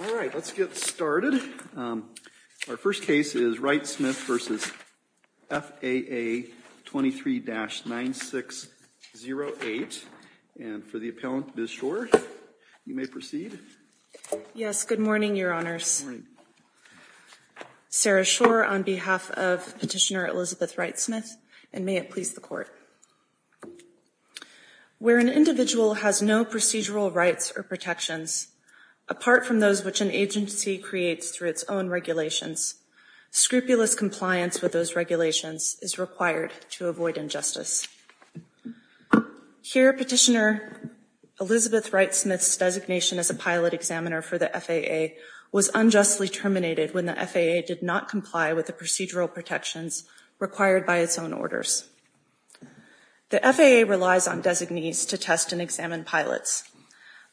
All right, let's get started. Our first case is Wright-Smith v. FAA 23-9608, and for the appellant, Ms. Schor, you may proceed. Yes, good morning, Your Honors. Sarah Schor, on behalf of Petitioner Elizabeth Wright-Smith, and may it please the Court. Where an individual has no procedural rights or protections, apart from those which an agency creates through its own regulations, scrupulous compliance with those regulations is required to avoid injustice. Here, Petitioner Elizabeth Wright-Smith's designation as a pilot examiner for the FAA was unjustly terminated when the FAA did not comply with the procedural protections required by its own orders. The FAA relies on designees to test and examine pilots.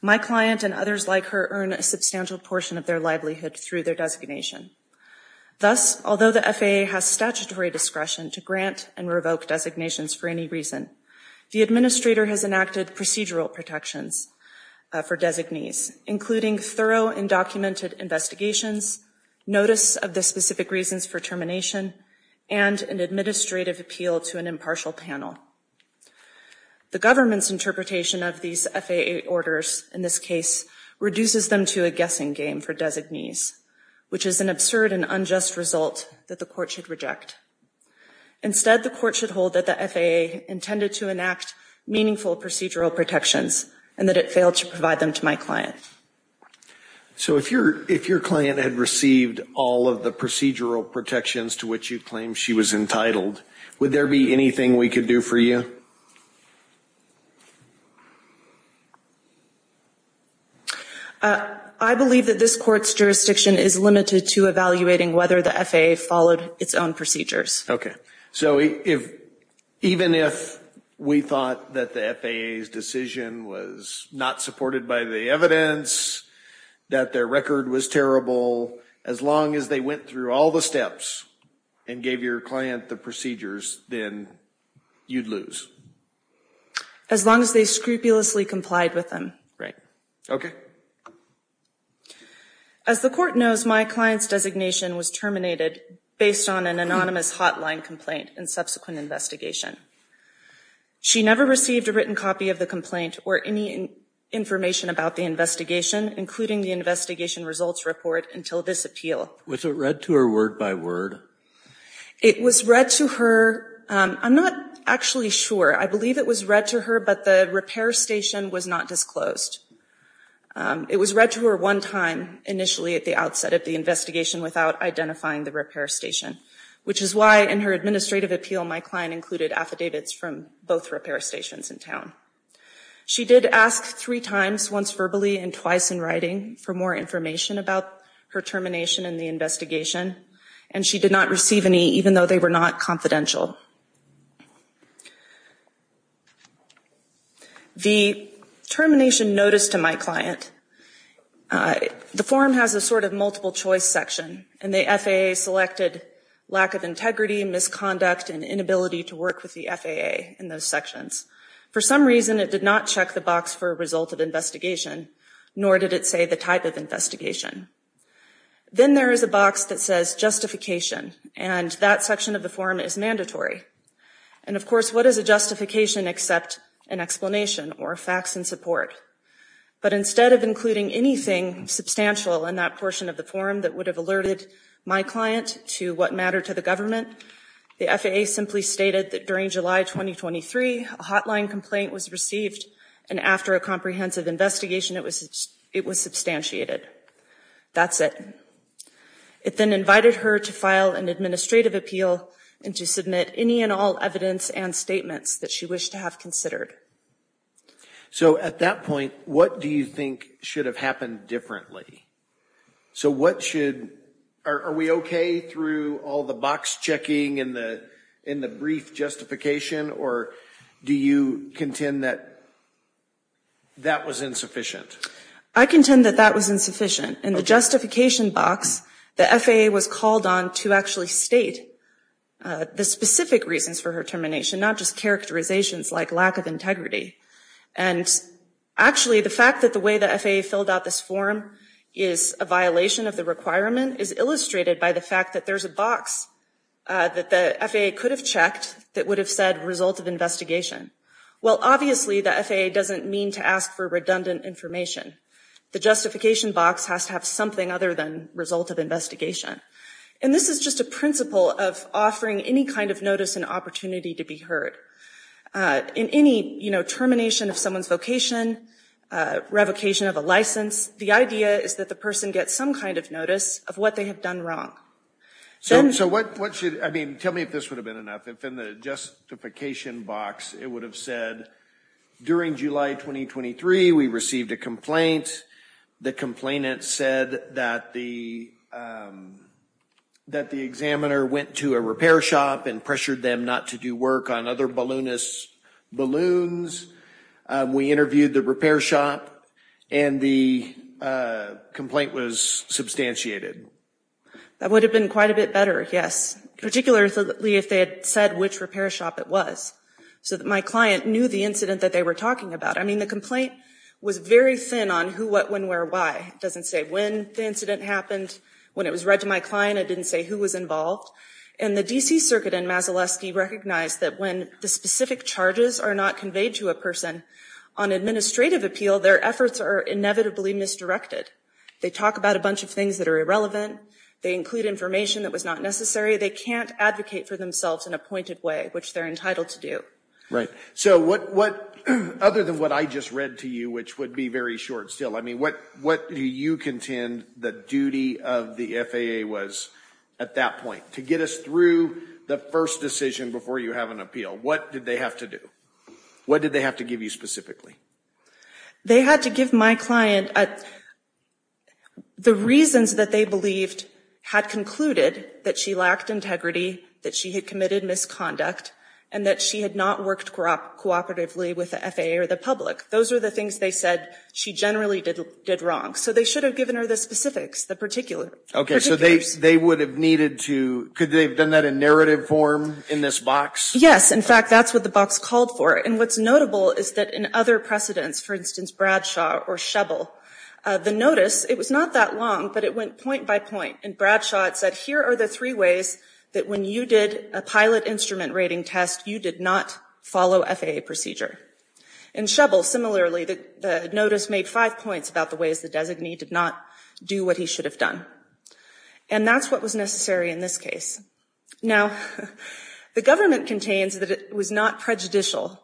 My client and others like her earn a substantial portion of their livelihood through their designation. Thus, although the FAA has statutory discretion to grant and revoke designations for any reason, the administrator has enacted procedural protections for designees, including thorough and documented investigations, notice of the specific reasons for termination, and an administrative appeal to an impartial panel. The government's interpretation of these FAA orders, in this case, reduces them to a guessing game for designees, which is an absurd and unjust result that the Court should reject. Instead, the Court should hold that the FAA intended to enact meaningful procedural protections, and that it failed to provide them to my client. So if your client had received all of the procedural protections to which you claim she was entitled, would there be anything we could do for you? I believe that this Court's jurisdiction is limited to evaluating whether the FAA followed its own procedures. Okay. So even if we thought that the FAA's decision was not supported by the evidence, that their record was terrible, as long as they went through all the steps and gave your client the procedures, then you'd lose? As long as they scrupulously complied with them. Right. Okay. As the Court knows, my client's designation was terminated based on an anonymous hotline complaint and subsequent investigation. She never received a written copy of the complaint or any information about the investigation, including the investigation results report, until this appeal. Was it read to her word by word? It was read to her – I'm not actually sure. I believe it was read to her, but the repair station was not disclosed. It was read to her one time, initially at the outset of the investigation without identifying the repair station, which is why, in her administrative appeal, my client included affidavits from both repair stations in town. She did ask three times, once verbally and twice in writing, for more information about her termination and the investigation, and she did not receive any, even though they were not confidential. The termination notice to my client – the form has a sort of multiple-choice section, and the FAA selected lack of integrity, misconduct, and inability to work with the FAA in those sections. For some reason, it did not check the box for result of investigation, nor did it say the type of investigation. Then there is a box that says justification, and that section of the form is mandatory. And of course, what is a justification except an explanation or facts in support? But instead of including anything substantial in that portion of the form that related my client to what mattered to the government, the FAA simply stated that during July 2023, a hotline complaint was received, and after a comprehensive investigation, it was substantiated. That's it. It then invited her to file an administrative appeal and to submit any and all evidence and statements that she wished to have considered. So, at that point, what do you think should have happened differently? So what should – are we okay through all the box checking and the brief justification, or do you contend that that was insufficient? I contend that that was insufficient. In the justification box, the FAA was called on to actually state the specific reasons for her termination, not just characterizations like lack of integrity. And actually, the fact that the way the FAA filled out this form is a violation of the requirement is illustrated by the fact that there is a box that the FAA could have checked that would have said result of investigation. Well, obviously, the FAA doesn't mean to ask for redundant information. The justification box has to have something other than result of investigation. And this is just a principle of offering any kind of notice and opportunity to be heard. In any termination of someone's vocation, revocation of a license, the idea is that the person gets some kind of notice of what they have done wrong. So, what should – I mean, tell me if this would have been enough. If in the justification box, it would have said, during July 2023, we received a complaint. The complainant said that the examiner went to a repair shop and pressured them not to do work on other balloonists' balloons. We interviewed the repair shop, and the complaint was substantiated. That would have been quite a bit better, yes, particularly if they had said which repair shop it was, so that my client knew the incident that they were talking about. I mean, the complaint was very thin on who, what, when, where, why. It doesn't say when the incident happened. When it was read to my client, it didn't say who was involved. And the D.C. Circuit in Masolesti recognized that when the specific charges are not conveyed to a person on administrative appeal, their efforts are inevitably misdirected. They talk about a bunch of things that are irrelevant. They include information that was not necessary. They can't advocate for themselves in a pointed way, which they're entitled to do. Right. So what, other than what I just read to you, which would be very short still, I mean, what do you contend the duty of the FAA was at that point, to get us through the first decision before you have an appeal? What did they have to do? What did they have to give you specifically? They had to give my client the reasons that they believed had concluded that she lacked integrity, that she had committed misconduct, and that she had not worked cooperatively with the FAA or the public. Those are the things they said she generally did wrong. So they should have given her the specifics, the particular. Okay. So they would have needed to, could they have done that in narrative form in this box? Yes. In fact, that's what the box called for. And what's notable is that in other precedents, for instance, Bradshaw or Shubble, the notice, it was not that long, but it went point by point. And Bradshaw had said, here are the three ways that when you did a pilot instrument rating test, you did not follow FAA procedure. In Shubble, similarly, the notice made five points about the ways the designee did not do what he should have done. And that's what was necessary in this case. Now, the government contains that it was not prejudicial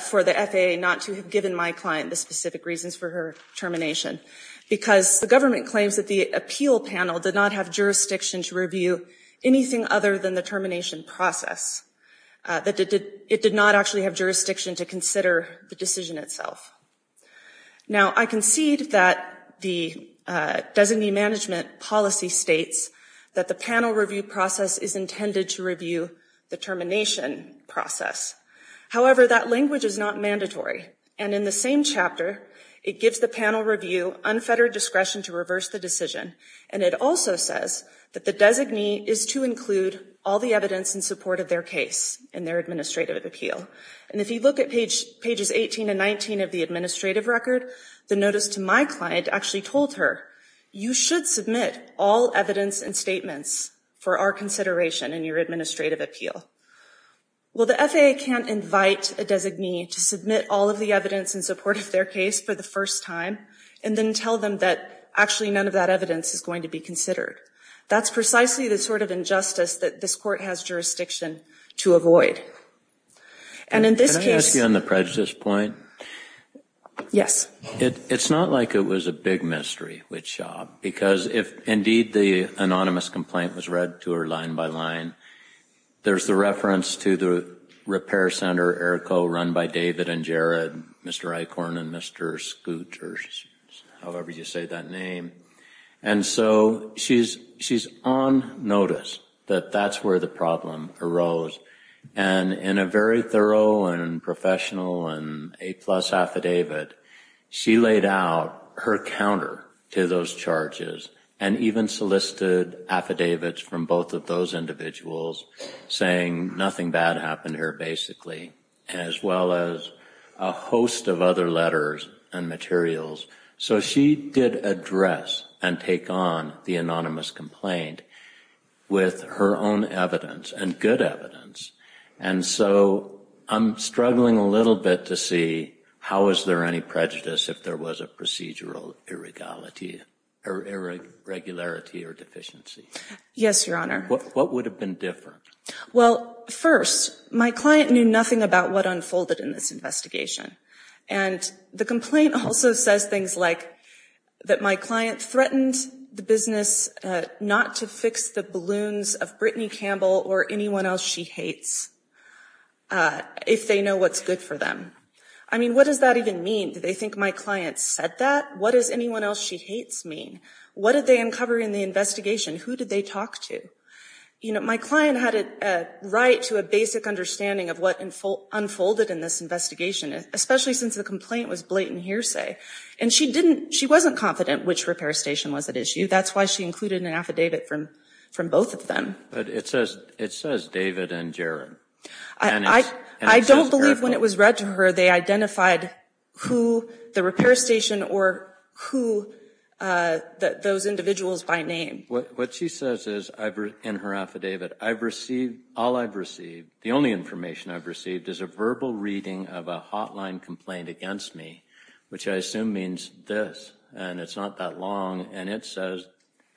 for the FAA not to have given my client the specific reasons for her termination, because the government claims that the appeal panel did not have jurisdiction to review anything other than the termination process. It did not actually have jurisdiction to consider the decision itself. Now I concede that the designee management policy states that the panel review process is intended to review the termination process. However, that language is not mandatory. And in the same chapter, it gives the panel review unfettered discretion to reverse the decision and it also says that the designee is to include all the evidence in support of their case in their administrative appeal. And if you look at pages 18 and 19 of the administrative record, the notice to my client actually told her, you should submit all evidence and statements for our consideration in your administrative appeal. Well, the FAA can't invite a designee to submit all of the evidence in support of their case for the first time, and then tell them that actually none of that evidence is going to be considered. That's precisely the sort of injustice that this court has jurisdiction to avoid. And in this case... Can I ask you on the prejudice point? Yes. It's not like it was a big mystery, because if indeed the anonymous complaint was read to her line by line, there's the reference to the repair center, ERCO, run by David and Jared, Mr. Eichhorn and Mr. Scoot, or however you say that name. And so she's on notice that that's where the problem arose. And in a very thorough and professional and A-plus affidavit, she laid out her counter to those charges and even solicited affidavits from a host of other letters and materials. So she did address and take on the anonymous complaint with her own evidence and good evidence. And so I'm struggling a little bit to see how is there any prejudice if there was a procedural irregularity or deficiency. Yes, Your Honor. What would have been different? Well, first, my client knew nothing about what unfolded in this investigation. And the complaint also says things like that my client threatened the business not to fix the balloons of Brittany Campbell or anyone else she hates if they know what's good for them. I mean, what does that even mean? Do they think my client said that? What does anyone else she hates mean? What did they uncover in the investigation? Who did they talk to? You know, my client had a right to a basic understanding of what unfolded in this investigation, especially since the complaint was blatant hearsay. And she didn't she wasn't confident which repair station was at issue. That's why she included an affidavit from from both of them. But it says it says David and Jaron. I don't believe when it was read to her they identified who the repair station or who those individuals by name. What she says is in her affidavit, I've received all I've received. The only information I've received is a verbal reading of a hotline complaint against me, which I assume means this and it's not that long. And it says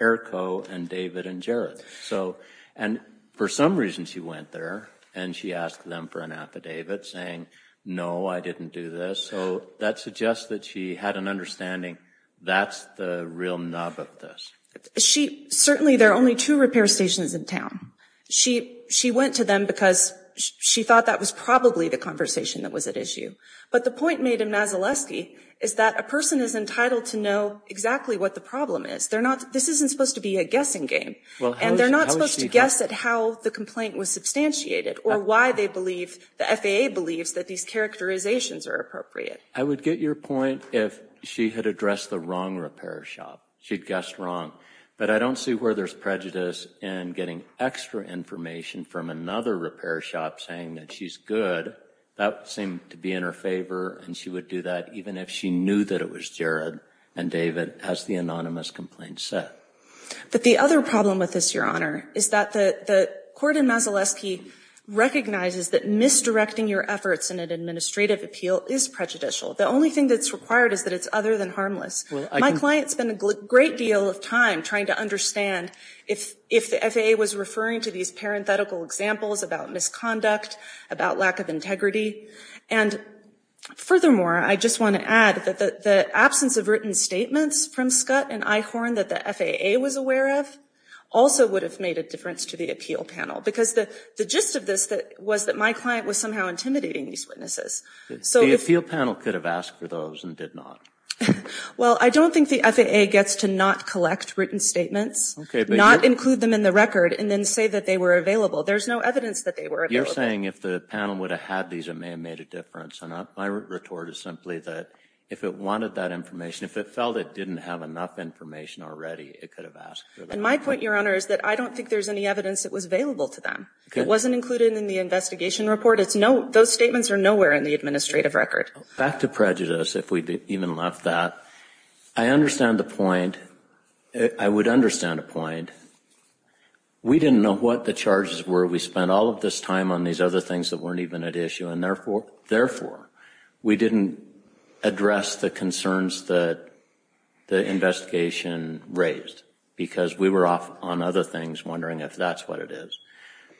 Errico and David and Jared. So and for some reason she went there and she asked them for an affidavit saying, no, I didn't do this. So that suggests that she had an understanding. That's the real nub of this. She certainly there are only two repair stations in town. She she went to them because she thought that was probably the conversation that was at issue. But the point made in Mazaletsky is that a person is entitled to know exactly what the problem is. They're not this isn't supposed to be a guessing game and they're not supposed to guess at how the complaint was substantiated or why they believe the FAA believes that these characterizations are appropriate. I would get your point if she had addressed the wrong repair shop. She'd guessed wrong. But I don't see where there's prejudice in getting extra information from another repair shop saying that she's good. That seemed to be in her favor. And she would do that even if she knew that it was Jared and David, as the anonymous complaint said. But the other problem with this, Your Honor, is that the court in Mazaletsky recognizes that misdirecting your efforts in an administrative appeal is prejudicial. The only thing that's required is that it's other than harmless. My client spent a great deal of time trying to understand if the FAA was referring to these parenthetical examples about misconduct, about lack of integrity. And furthermore, I just want to add that the absence of written statements from Scott and Eichhorn that the FAA was aware of also would have made a difference to the appeal panel. Because the gist of this was that my client was somehow intimidating these witnesses. So if the appeal panel could have asked for those and did not. Well, I don't think the FAA gets to not collect written statements, not include them in the record, and then say that they were available. There's no evidence that they were available. You're saying if the panel would have had these, it may have made a difference. And my retort is simply that if it wanted that information, if it felt it didn't have enough information already, it could have asked for them. And my point, Your Honor, is that I don't think there's any evidence that was available to them. It wasn't included in the investigation report. It's no, those statements are nowhere in the administrative record. Back to prejudice, if we even left that. I understand the point. I would understand the point. We didn't know what the charges were. We spent all of this time on these other things that weren't even at issue. And therefore, we didn't address the concerns that the investigation raised, because we were off on other things, wondering if that's what it is.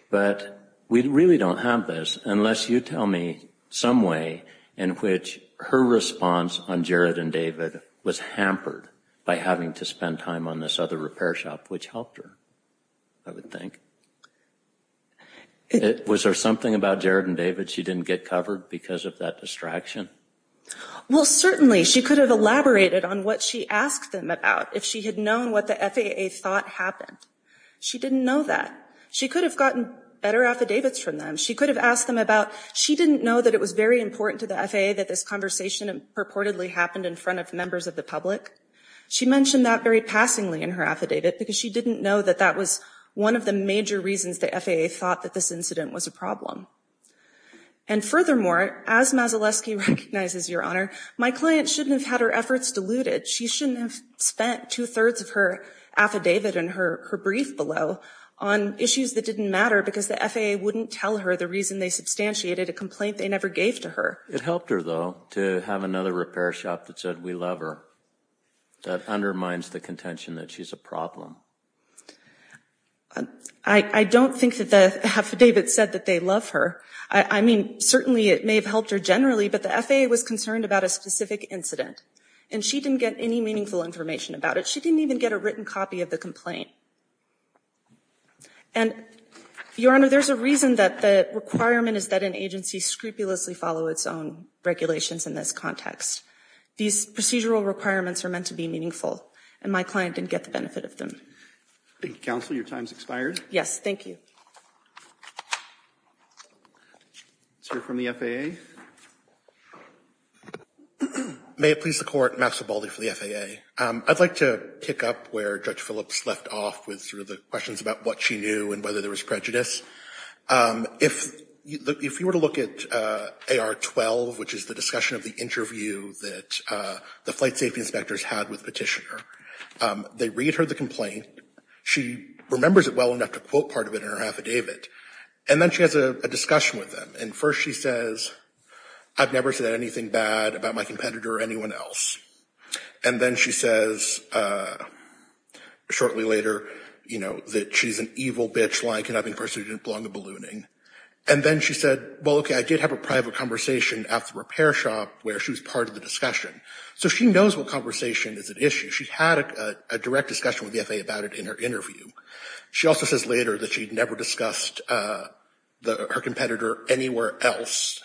But we really don't have this, unless you tell me some way in which her response on Jared and David was hampered by having to spend time on this other repair shop, which helped her, I would think. Was there something about Jared and David she didn't get covered because of that distraction? Well, certainly, she could have elaborated on what she asked them about, if she had known what the FAA thought happened. She didn't know that. She could have gotten better affidavits from them. She could have asked them about, she didn't know that it was very important to the FAA that this conversation purportedly happened in front of members of the public. She mentioned that very passingly in her affidavit, because she didn't know that that was one of the major reasons the FAA thought that this incident was a problem. And furthermore, as Mazaleski recognizes, Your Honor, my client shouldn't have had her efforts diluted. She shouldn't have spent two-thirds of her affidavit and her brief below on issues that didn't matter, because the FAA wouldn't tell her the reason they substantiated a complaint they never gave to her. It helped her, though, to have another repair shop that said, we love her. That undermines the contention that she's a problem. I don't think that the affidavit said that they love her. I mean, certainly it may have helped her generally, but the FAA was concerned about a specific incident, and she didn't get any meaningful information about it. She didn't even get a written copy of the complaint. And, Your Honor, there's a reason that the requirement is that an agency scrupulously follow its own regulations in this context. These procedural requirements are meant to be meaningful, and my client didn't get the benefit of them. Thank you, Counsel. Your time's expired. Yes, thank you. Let's hear from the FAA. May it please the Court, Maxwell Baldy for the FAA. I'd like to kick up where Judge Phillips left off with sort of the questions about what she knew and whether there was prejudice. If you were to look at AR-12, which is the discussion of the interview that the petitioner, they read her the complaint. She remembers it well enough to quote part of it in her affidavit, and then she has a discussion with them. And first she says, I've never said anything bad about my competitor or anyone else. And then she says, shortly later, you know, that she's an evil bitch like, and I think first she didn't belong to ballooning. And then she said, well, okay, I did have a private conversation at the repair shop where she was part of the discussion. So she knows what conversation is an issue. She had a direct discussion with the FAA about it in her interview. She also says later that she'd never discussed her competitor anywhere else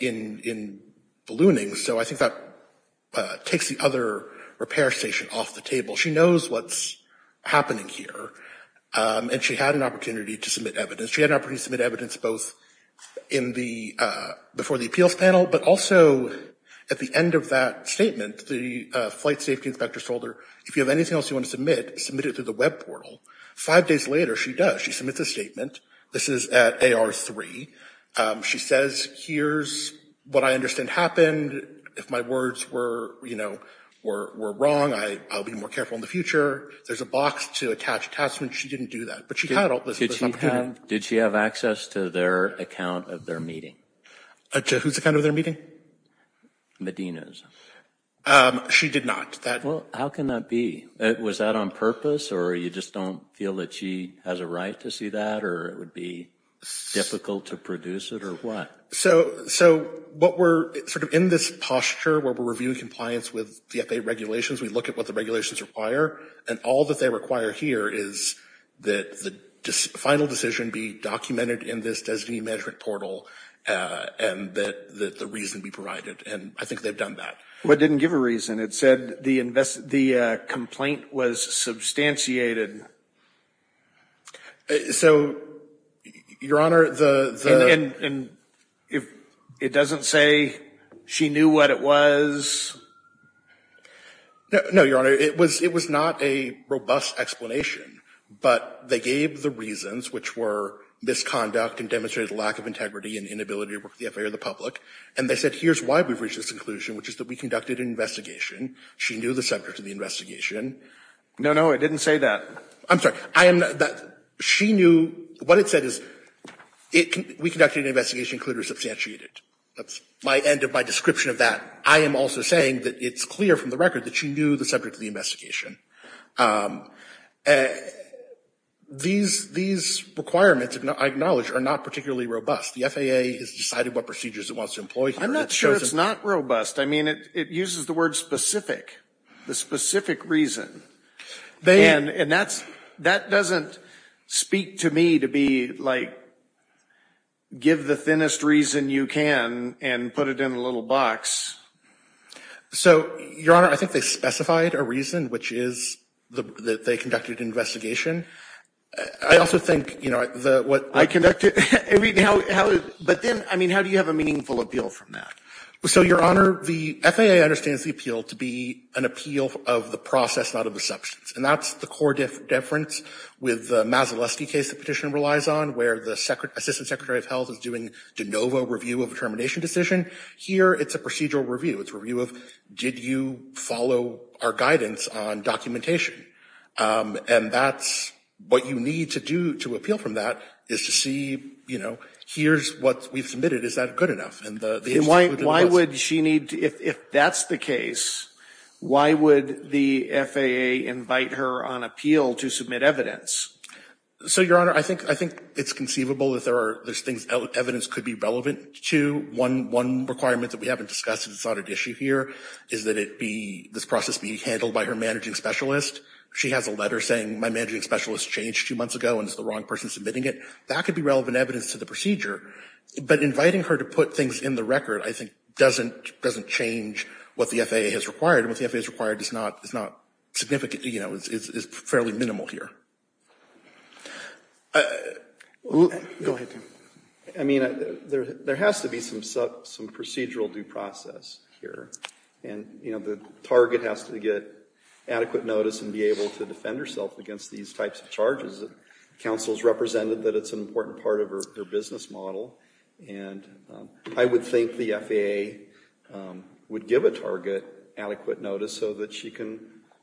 in ballooning. So I think that takes the other repair station off the table. She knows what's happening here. And she had an opportunity to submit evidence. She had an opportunity to submit evidence both in the, before the appeals panel, but also at the end of that statement, the flight safety inspector told her, if you have anything else you want to submit, submit it through the web portal. Five days later, she does. She submits a statement. This is at AR3. She says, here's what I understand happened. If my words were, you know, were wrong, I'll be more careful in the future. There's a box to attach attachments. She didn't do that, but she had all this. Did she have access to their account of their meeting? To whose account of their meeting? Medina's. She did not. Well, how can that be? Was that on purpose, or you just don't feel that she has a right to see that, or it would be difficult to produce it, or what? So what we're sort of in this posture where we're reviewing compliance with the FAA regulations, we look at what the regulations require, and all that they require here is that the final decision be documented in this designee management portal, and that the reason be provided, and I think they've done that. Well, it didn't give a reason. It said the complaint was substantiated. So, Your Honor, the — And it doesn't say she knew what it was? No, Your Honor. It was not a robust explanation, but they gave the reasons, which were misconduct and demonstrated a lack of integrity and inability to work with the FAA or the public, and they said here's why we've reached this conclusion, which is that we conducted an investigation. She knew the subject of the investigation. No, no. It didn't say that. I'm sorry. She knew — what it said is we conducted an investigation and it was substantiated. That's my end of my description of that. I am also saying that it's clear from the record that she knew the subject of the investigation. These requirements, I acknowledge, are not particularly robust. The FAA has decided what procedures it wants to employ here. I'm not sure it's not robust. I mean, it uses the word specific, the specific reason, and that doesn't speak to me to be like, give the thinnest reason you can and put it in a little box. So, Your Honor, I think they specified a reason, which is that they conducted an investigation. I also think, you know, what I conducted — I mean, how — but then, I mean, how do you have a meaningful appeal from that? So, Your Honor, the FAA understands the appeal to be an appeal of the process, not of the substance. And that's the core difference with the Mazalesty case the Petitioner relies on, where the Assistant Secretary of Health is doing de novo review of a termination decision. Here, it's a procedural review. It's a review of, did you follow our guidance on documentation? And that's — what you need to do to appeal from that is to see, you know, here's what we've submitted. Is that good enough? And the — And why would she need — if that's the case, why would the FAA invite her on appeal to submit evidence? So, Your Honor, I think it's conceivable that there's things evidence could be relevant to. One requirement that we haven't discussed, and it's not an issue here, is that it be — this process be handled by her managing specialist. She has a letter saying, my managing specialist changed two months ago, and it's the wrong person submitting it. That could be relevant evidence to the procedure. But inviting her to put things in the record, I think, doesn't change what the FAA has required. And what the FAA has required is not significant, you know, it's fairly minimal here. Go ahead, Tim. I mean, there has to be some procedural due process here. And, you know, the target has to get adequate notice and be able to defend herself against these types of charges. The counsel has represented that it's an important part of her business model. And I would think the FAA would give a target adequate notice so that she can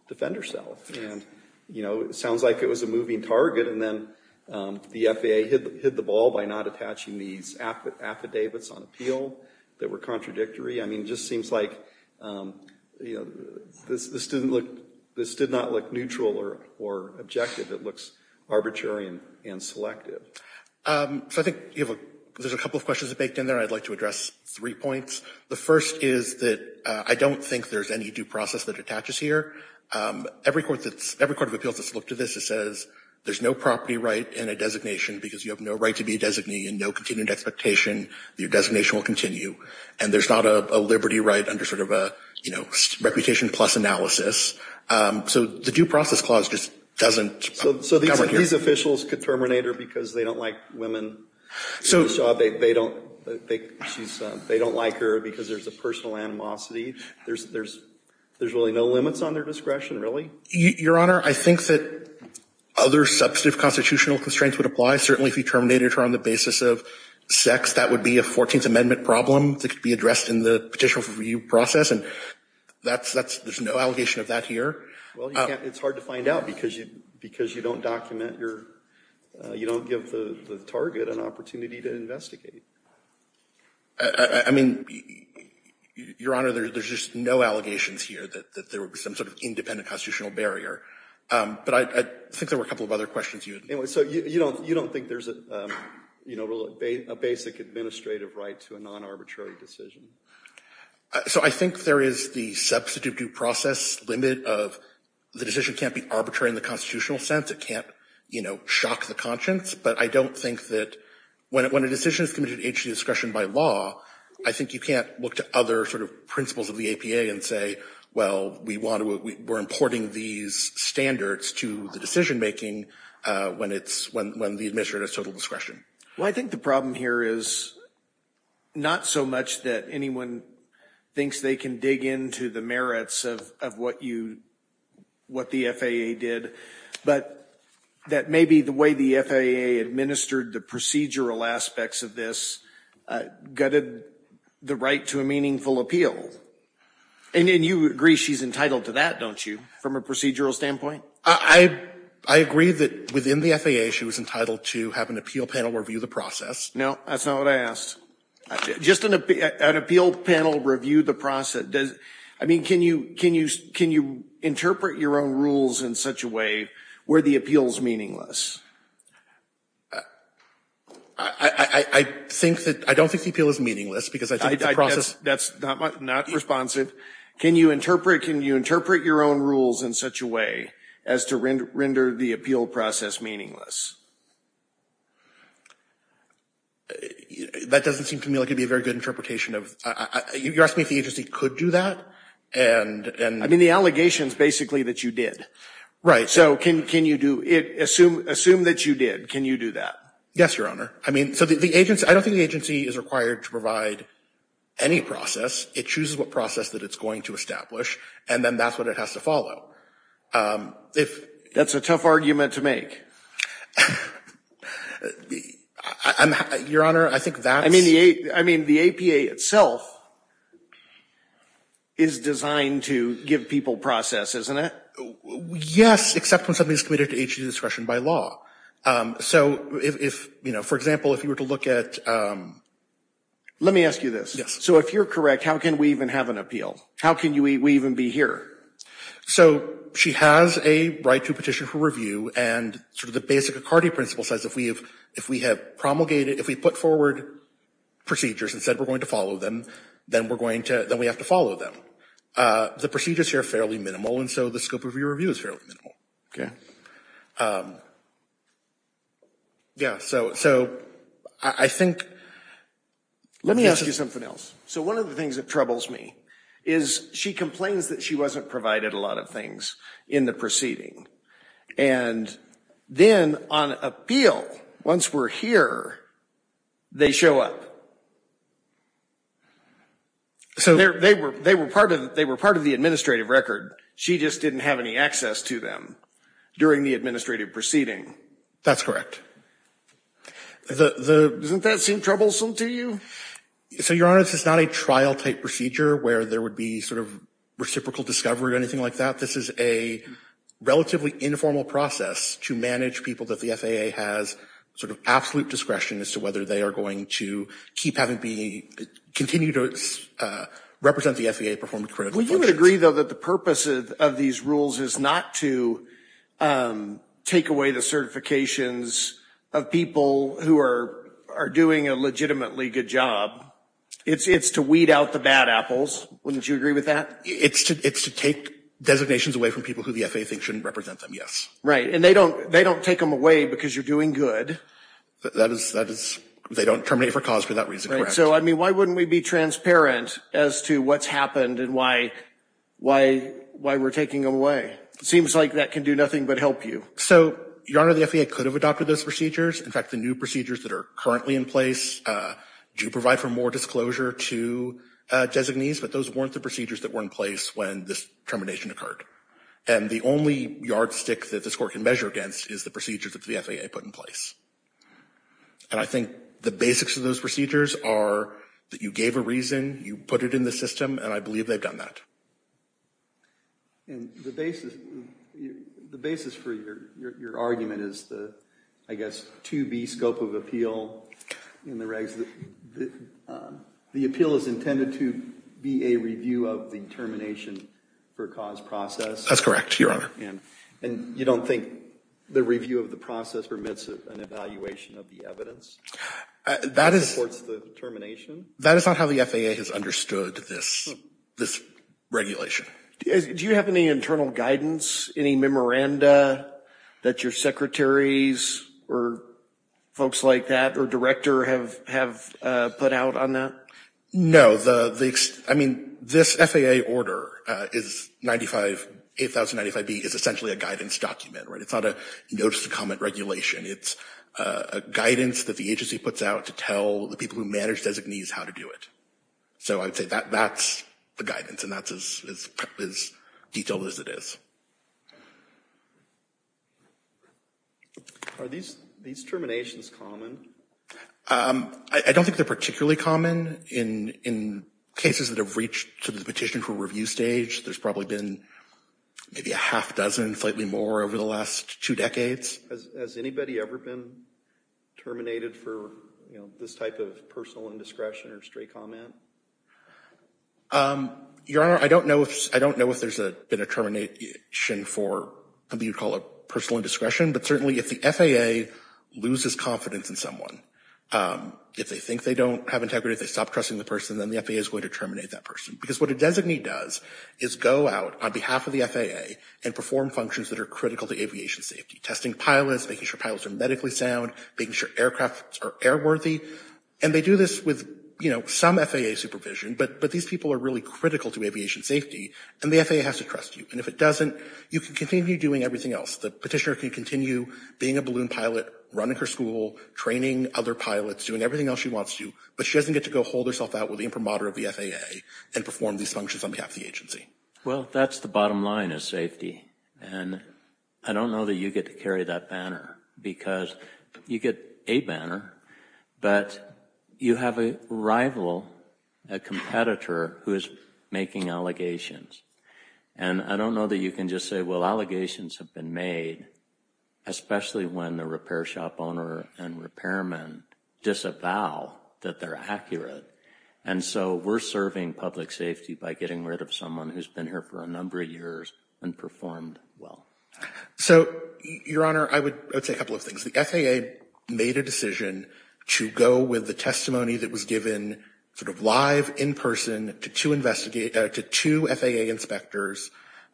defend herself. And, you know, it sounds like it was a moving target, and then the FAA hit the ball by not attaching these affidavits on appeal that were contradictory. I mean, it just seems like, you know, this didn't look — this did not look neutral or objective. It looks arbitrary and selective. So I think you have a — there's a couple of questions that baked in there. I'd like to address three points. The first is that I don't think there's any due process that attaches here. Every court that's — every court of appeals that's looked at this says there's no property right in a designation because you have no right to be a designee and no continued expectation that your designation will continue. And there's not a liberty right under sort of a, you know, reputation plus analysis. So the due process clause just doesn't cover here. So these officials could terminate her because they don't like women in the job. They don't — they don't like her because there's a personal animosity. There's really no limits on their discretion, really? Your Honor, I think that other substantive constitutional constraints would apply. Certainly, if you terminated her on the basis of sex, that would be a 14th Amendment problem that could be addressed in the petition review process. And that's — there's no allegation of that here. Well, you can't — it's hard to find out because you don't document your — you don't give the target an opportunity to investigate. I mean, Your Honor, there's just no allegations here that there would be some sort of independent constitutional barrier. But I think there were a couple of other questions you had. So you don't think there's a basic administrative right to a non-arbitrary decision? So I think there is the substantive due process limit of the decision can't be arbitrary in the constitutional sense. It can't, you know, shock the conscience. But I don't think that — when a decision is committed at age of discretion by law, I think you can't look to other sort of principles of the APA and say, well, we want to — we're importing these standards to the decision-making when it's — when the administrator has total discretion. Well, I think the problem here is not so much that anyone thinks they can dig into the merits of what you — what the FAA did, but that maybe the way the FAA administered the procedural aspects of this gutted the right to a meaningful appeal. And you agree she's entitled to that, don't you, from a procedural standpoint? I agree that within the FAA she was entitled to have an appeal panel review the process. No, that's not what I asked. Just an appeal panel review the process. I mean, can you interpret your own rules in such a way where the appeal is meaningless? I think that — I don't think the appeal is meaningless because I think the process — That's not responsive. Can you interpret — can you interpret your own rules in such a way as to render the appeal process meaningless? That doesn't seem to me like it would be a very good interpretation of — you're asking if the agency could do that? And — I mean, the allegation is basically that you did. Right. So can you do — assume that you did. Can you do that? Yes, Your Honor. I mean, so the agency — I don't think the agency is required to provide any process. It chooses what process that it's going to establish, and then that's what it has to follow. If — That's a tough argument to make. Your Honor, I think that's — I mean, the APA itself is designed to give people process, isn't it? Yes, except when something is committed to agency discretion by law. So if, you know, for example, if you were to look at — Let me ask you this. Yes. So if you're correct, how can we even have an appeal? How can we even be here? So she has a right to petition for review, and sort of the basic Accardi principle says if we have promulgated — if we put forward procedures and said we're going to follow them, then we're going to — then we have to follow them. The procedures here are fairly minimal, and so the scope of your review is fairly minimal. Okay. Yeah, so I think — Let me ask you something else. So one of the things that troubles me is she complains that she wasn't provided a lot of things in the proceeding, and then on appeal, once we're here, they show up. So — They were part of the administrative record. She just didn't have any access to them during the administrative proceeding. That's correct. Doesn't that seem troublesome to you? So, Your Honor, this is not a trial-type procedure where there would be sort of reciprocal discovery or anything like that. This is a relatively informal process to manage people that the FAA has sort of absolute discretion as to whether they are going to keep having to be — continue to represent the FAA and perform critical functions. Well, you would agree, though, that the purpose of these rules is not to take away the certifications of people who are doing a legitimately good job. It's to weed out the bad apples. Wouldn't you agree with that? It's to take designations away from people who the FAA thinks shouldn't represent them, yes. Right. And they don't take them away because you're doing good. That is — they don't terminate for cause for that reason, correct. So, I mean, why wouldn't we be transparent as to what's happened and why we're taking them away? It seems like that can do nothing but help you. So, Your Honor, the FAA could have adopted those procedures. In fact, the new procedures that are currently in place do provide for more disclosure to designees, but those weren't the procedures that were in place when this termination occurred. And the only yardstick that this Court can measure against is the procedures that the FAA put in place. And I think the basics of those procedures are that you gave a reason, you put it in the system, and I believe they've done that. And the basis for your argument is the, I guess, 2B scope of appeal in the regs. The appeal is intended to be a review of the termination for cause process. That's correct, Your Honor. And you don't think the review of the process permits an evaluation of the evidence that supports the termination? That is not how the FAA has understood this regulation. Do you have any internal guidance, any memoranda that your secretaries or folks like that or director have put out on that? No, the, I mean, this FAA order is 95, 8095B is essentially a guidance document, right? It's not a notice to comment regulation. It's a guidance that the agency puts out to tell the people who manage designees how to do it. So I would say that's the guidance, and that's as detailed as it is. Are these terminations common? I don't think they're particularly common. In cases that have reached to the petition for review stage, there's probably been maybe a half dozen, slightly more, over the last two decades. Has anybody ever been terminated for, you know, this type of personal indiscretion or stray comment? Your Honor, I don't know if there's been a termination for something you'd call a personal indiscretion, but certainly if the FAA loses confidence in someone, if they think they don't have integrity, if they stop trusting the person, then the FAA is going to terminate that person. Because what a designee does is go out on behalf of the FAA and perform functions that are critical to aviation safety, testing pilots, making sure pilots are medically sound, making sure aircrafts are airworthy. And they do this with, you know, some FAA supervision, but these people are really critical to aviation safety, and the FAA has to trust you. And if it doesn't, you can continue doing everything else. The petitioner can continue being a balloon pilot, running her school, training other pilots, doing everything else she wants to, but she doesn't get to go hold herself out with the imprimatur of the FAA and perform these functions on behalf of the agency. Well, that's the bottom line is safety. And I don't know that you get to carry that banner, because you get a banner, but you have a rival, a competitor, who is making allegations. And I don't know that you can just say, well, allegations have been made, especially when the repair shop owner and repairman disavow that they're accurate. And so we're serving public safety by getting rid of someone who's been here for a number of years and performed well. So, Your Honor, I would say a couple of things. The FAA made a decision to go with the testimony that was given sort of live, in person, to two FAA inspectors.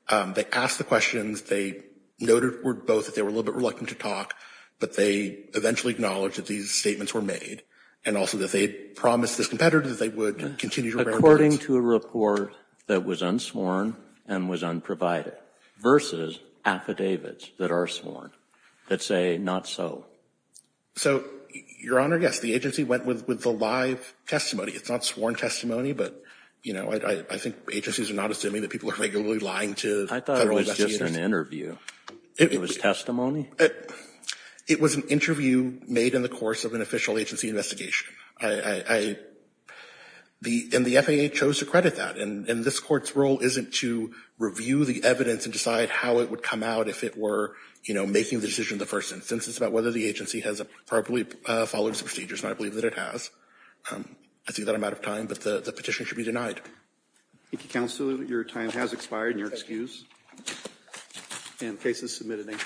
They asked the questions. They noted both that they were a little bit reluctant to talk, but they eventually acknowledged that these statements were made, and also that they had promised this competitor that they would continue to repair. According to a report that was unsworn and was unprovided versus affidavits that are sworn that say not so. So, Your Honor, yes, the agency went with the live testimony. It's not sworn testimony, but, you know, I think agencies are not assuming that people are regularly lying to federal investigators. I thought it was just an interview. It was testimony? It was an interview made in the course of an official agency investigation. And the FAA chose to credit that. And this Court's role isn't to review the evidence and decide how it would come out if it were, you know, making the decision in the first instance. It's about whether the agency has properly followed its procedures, and I believe that it has. I think that I'm out of time, but the petition should be denied. Thank you, Counselor. Your time has expired, and you're excused. And the case is submitted. Thank you.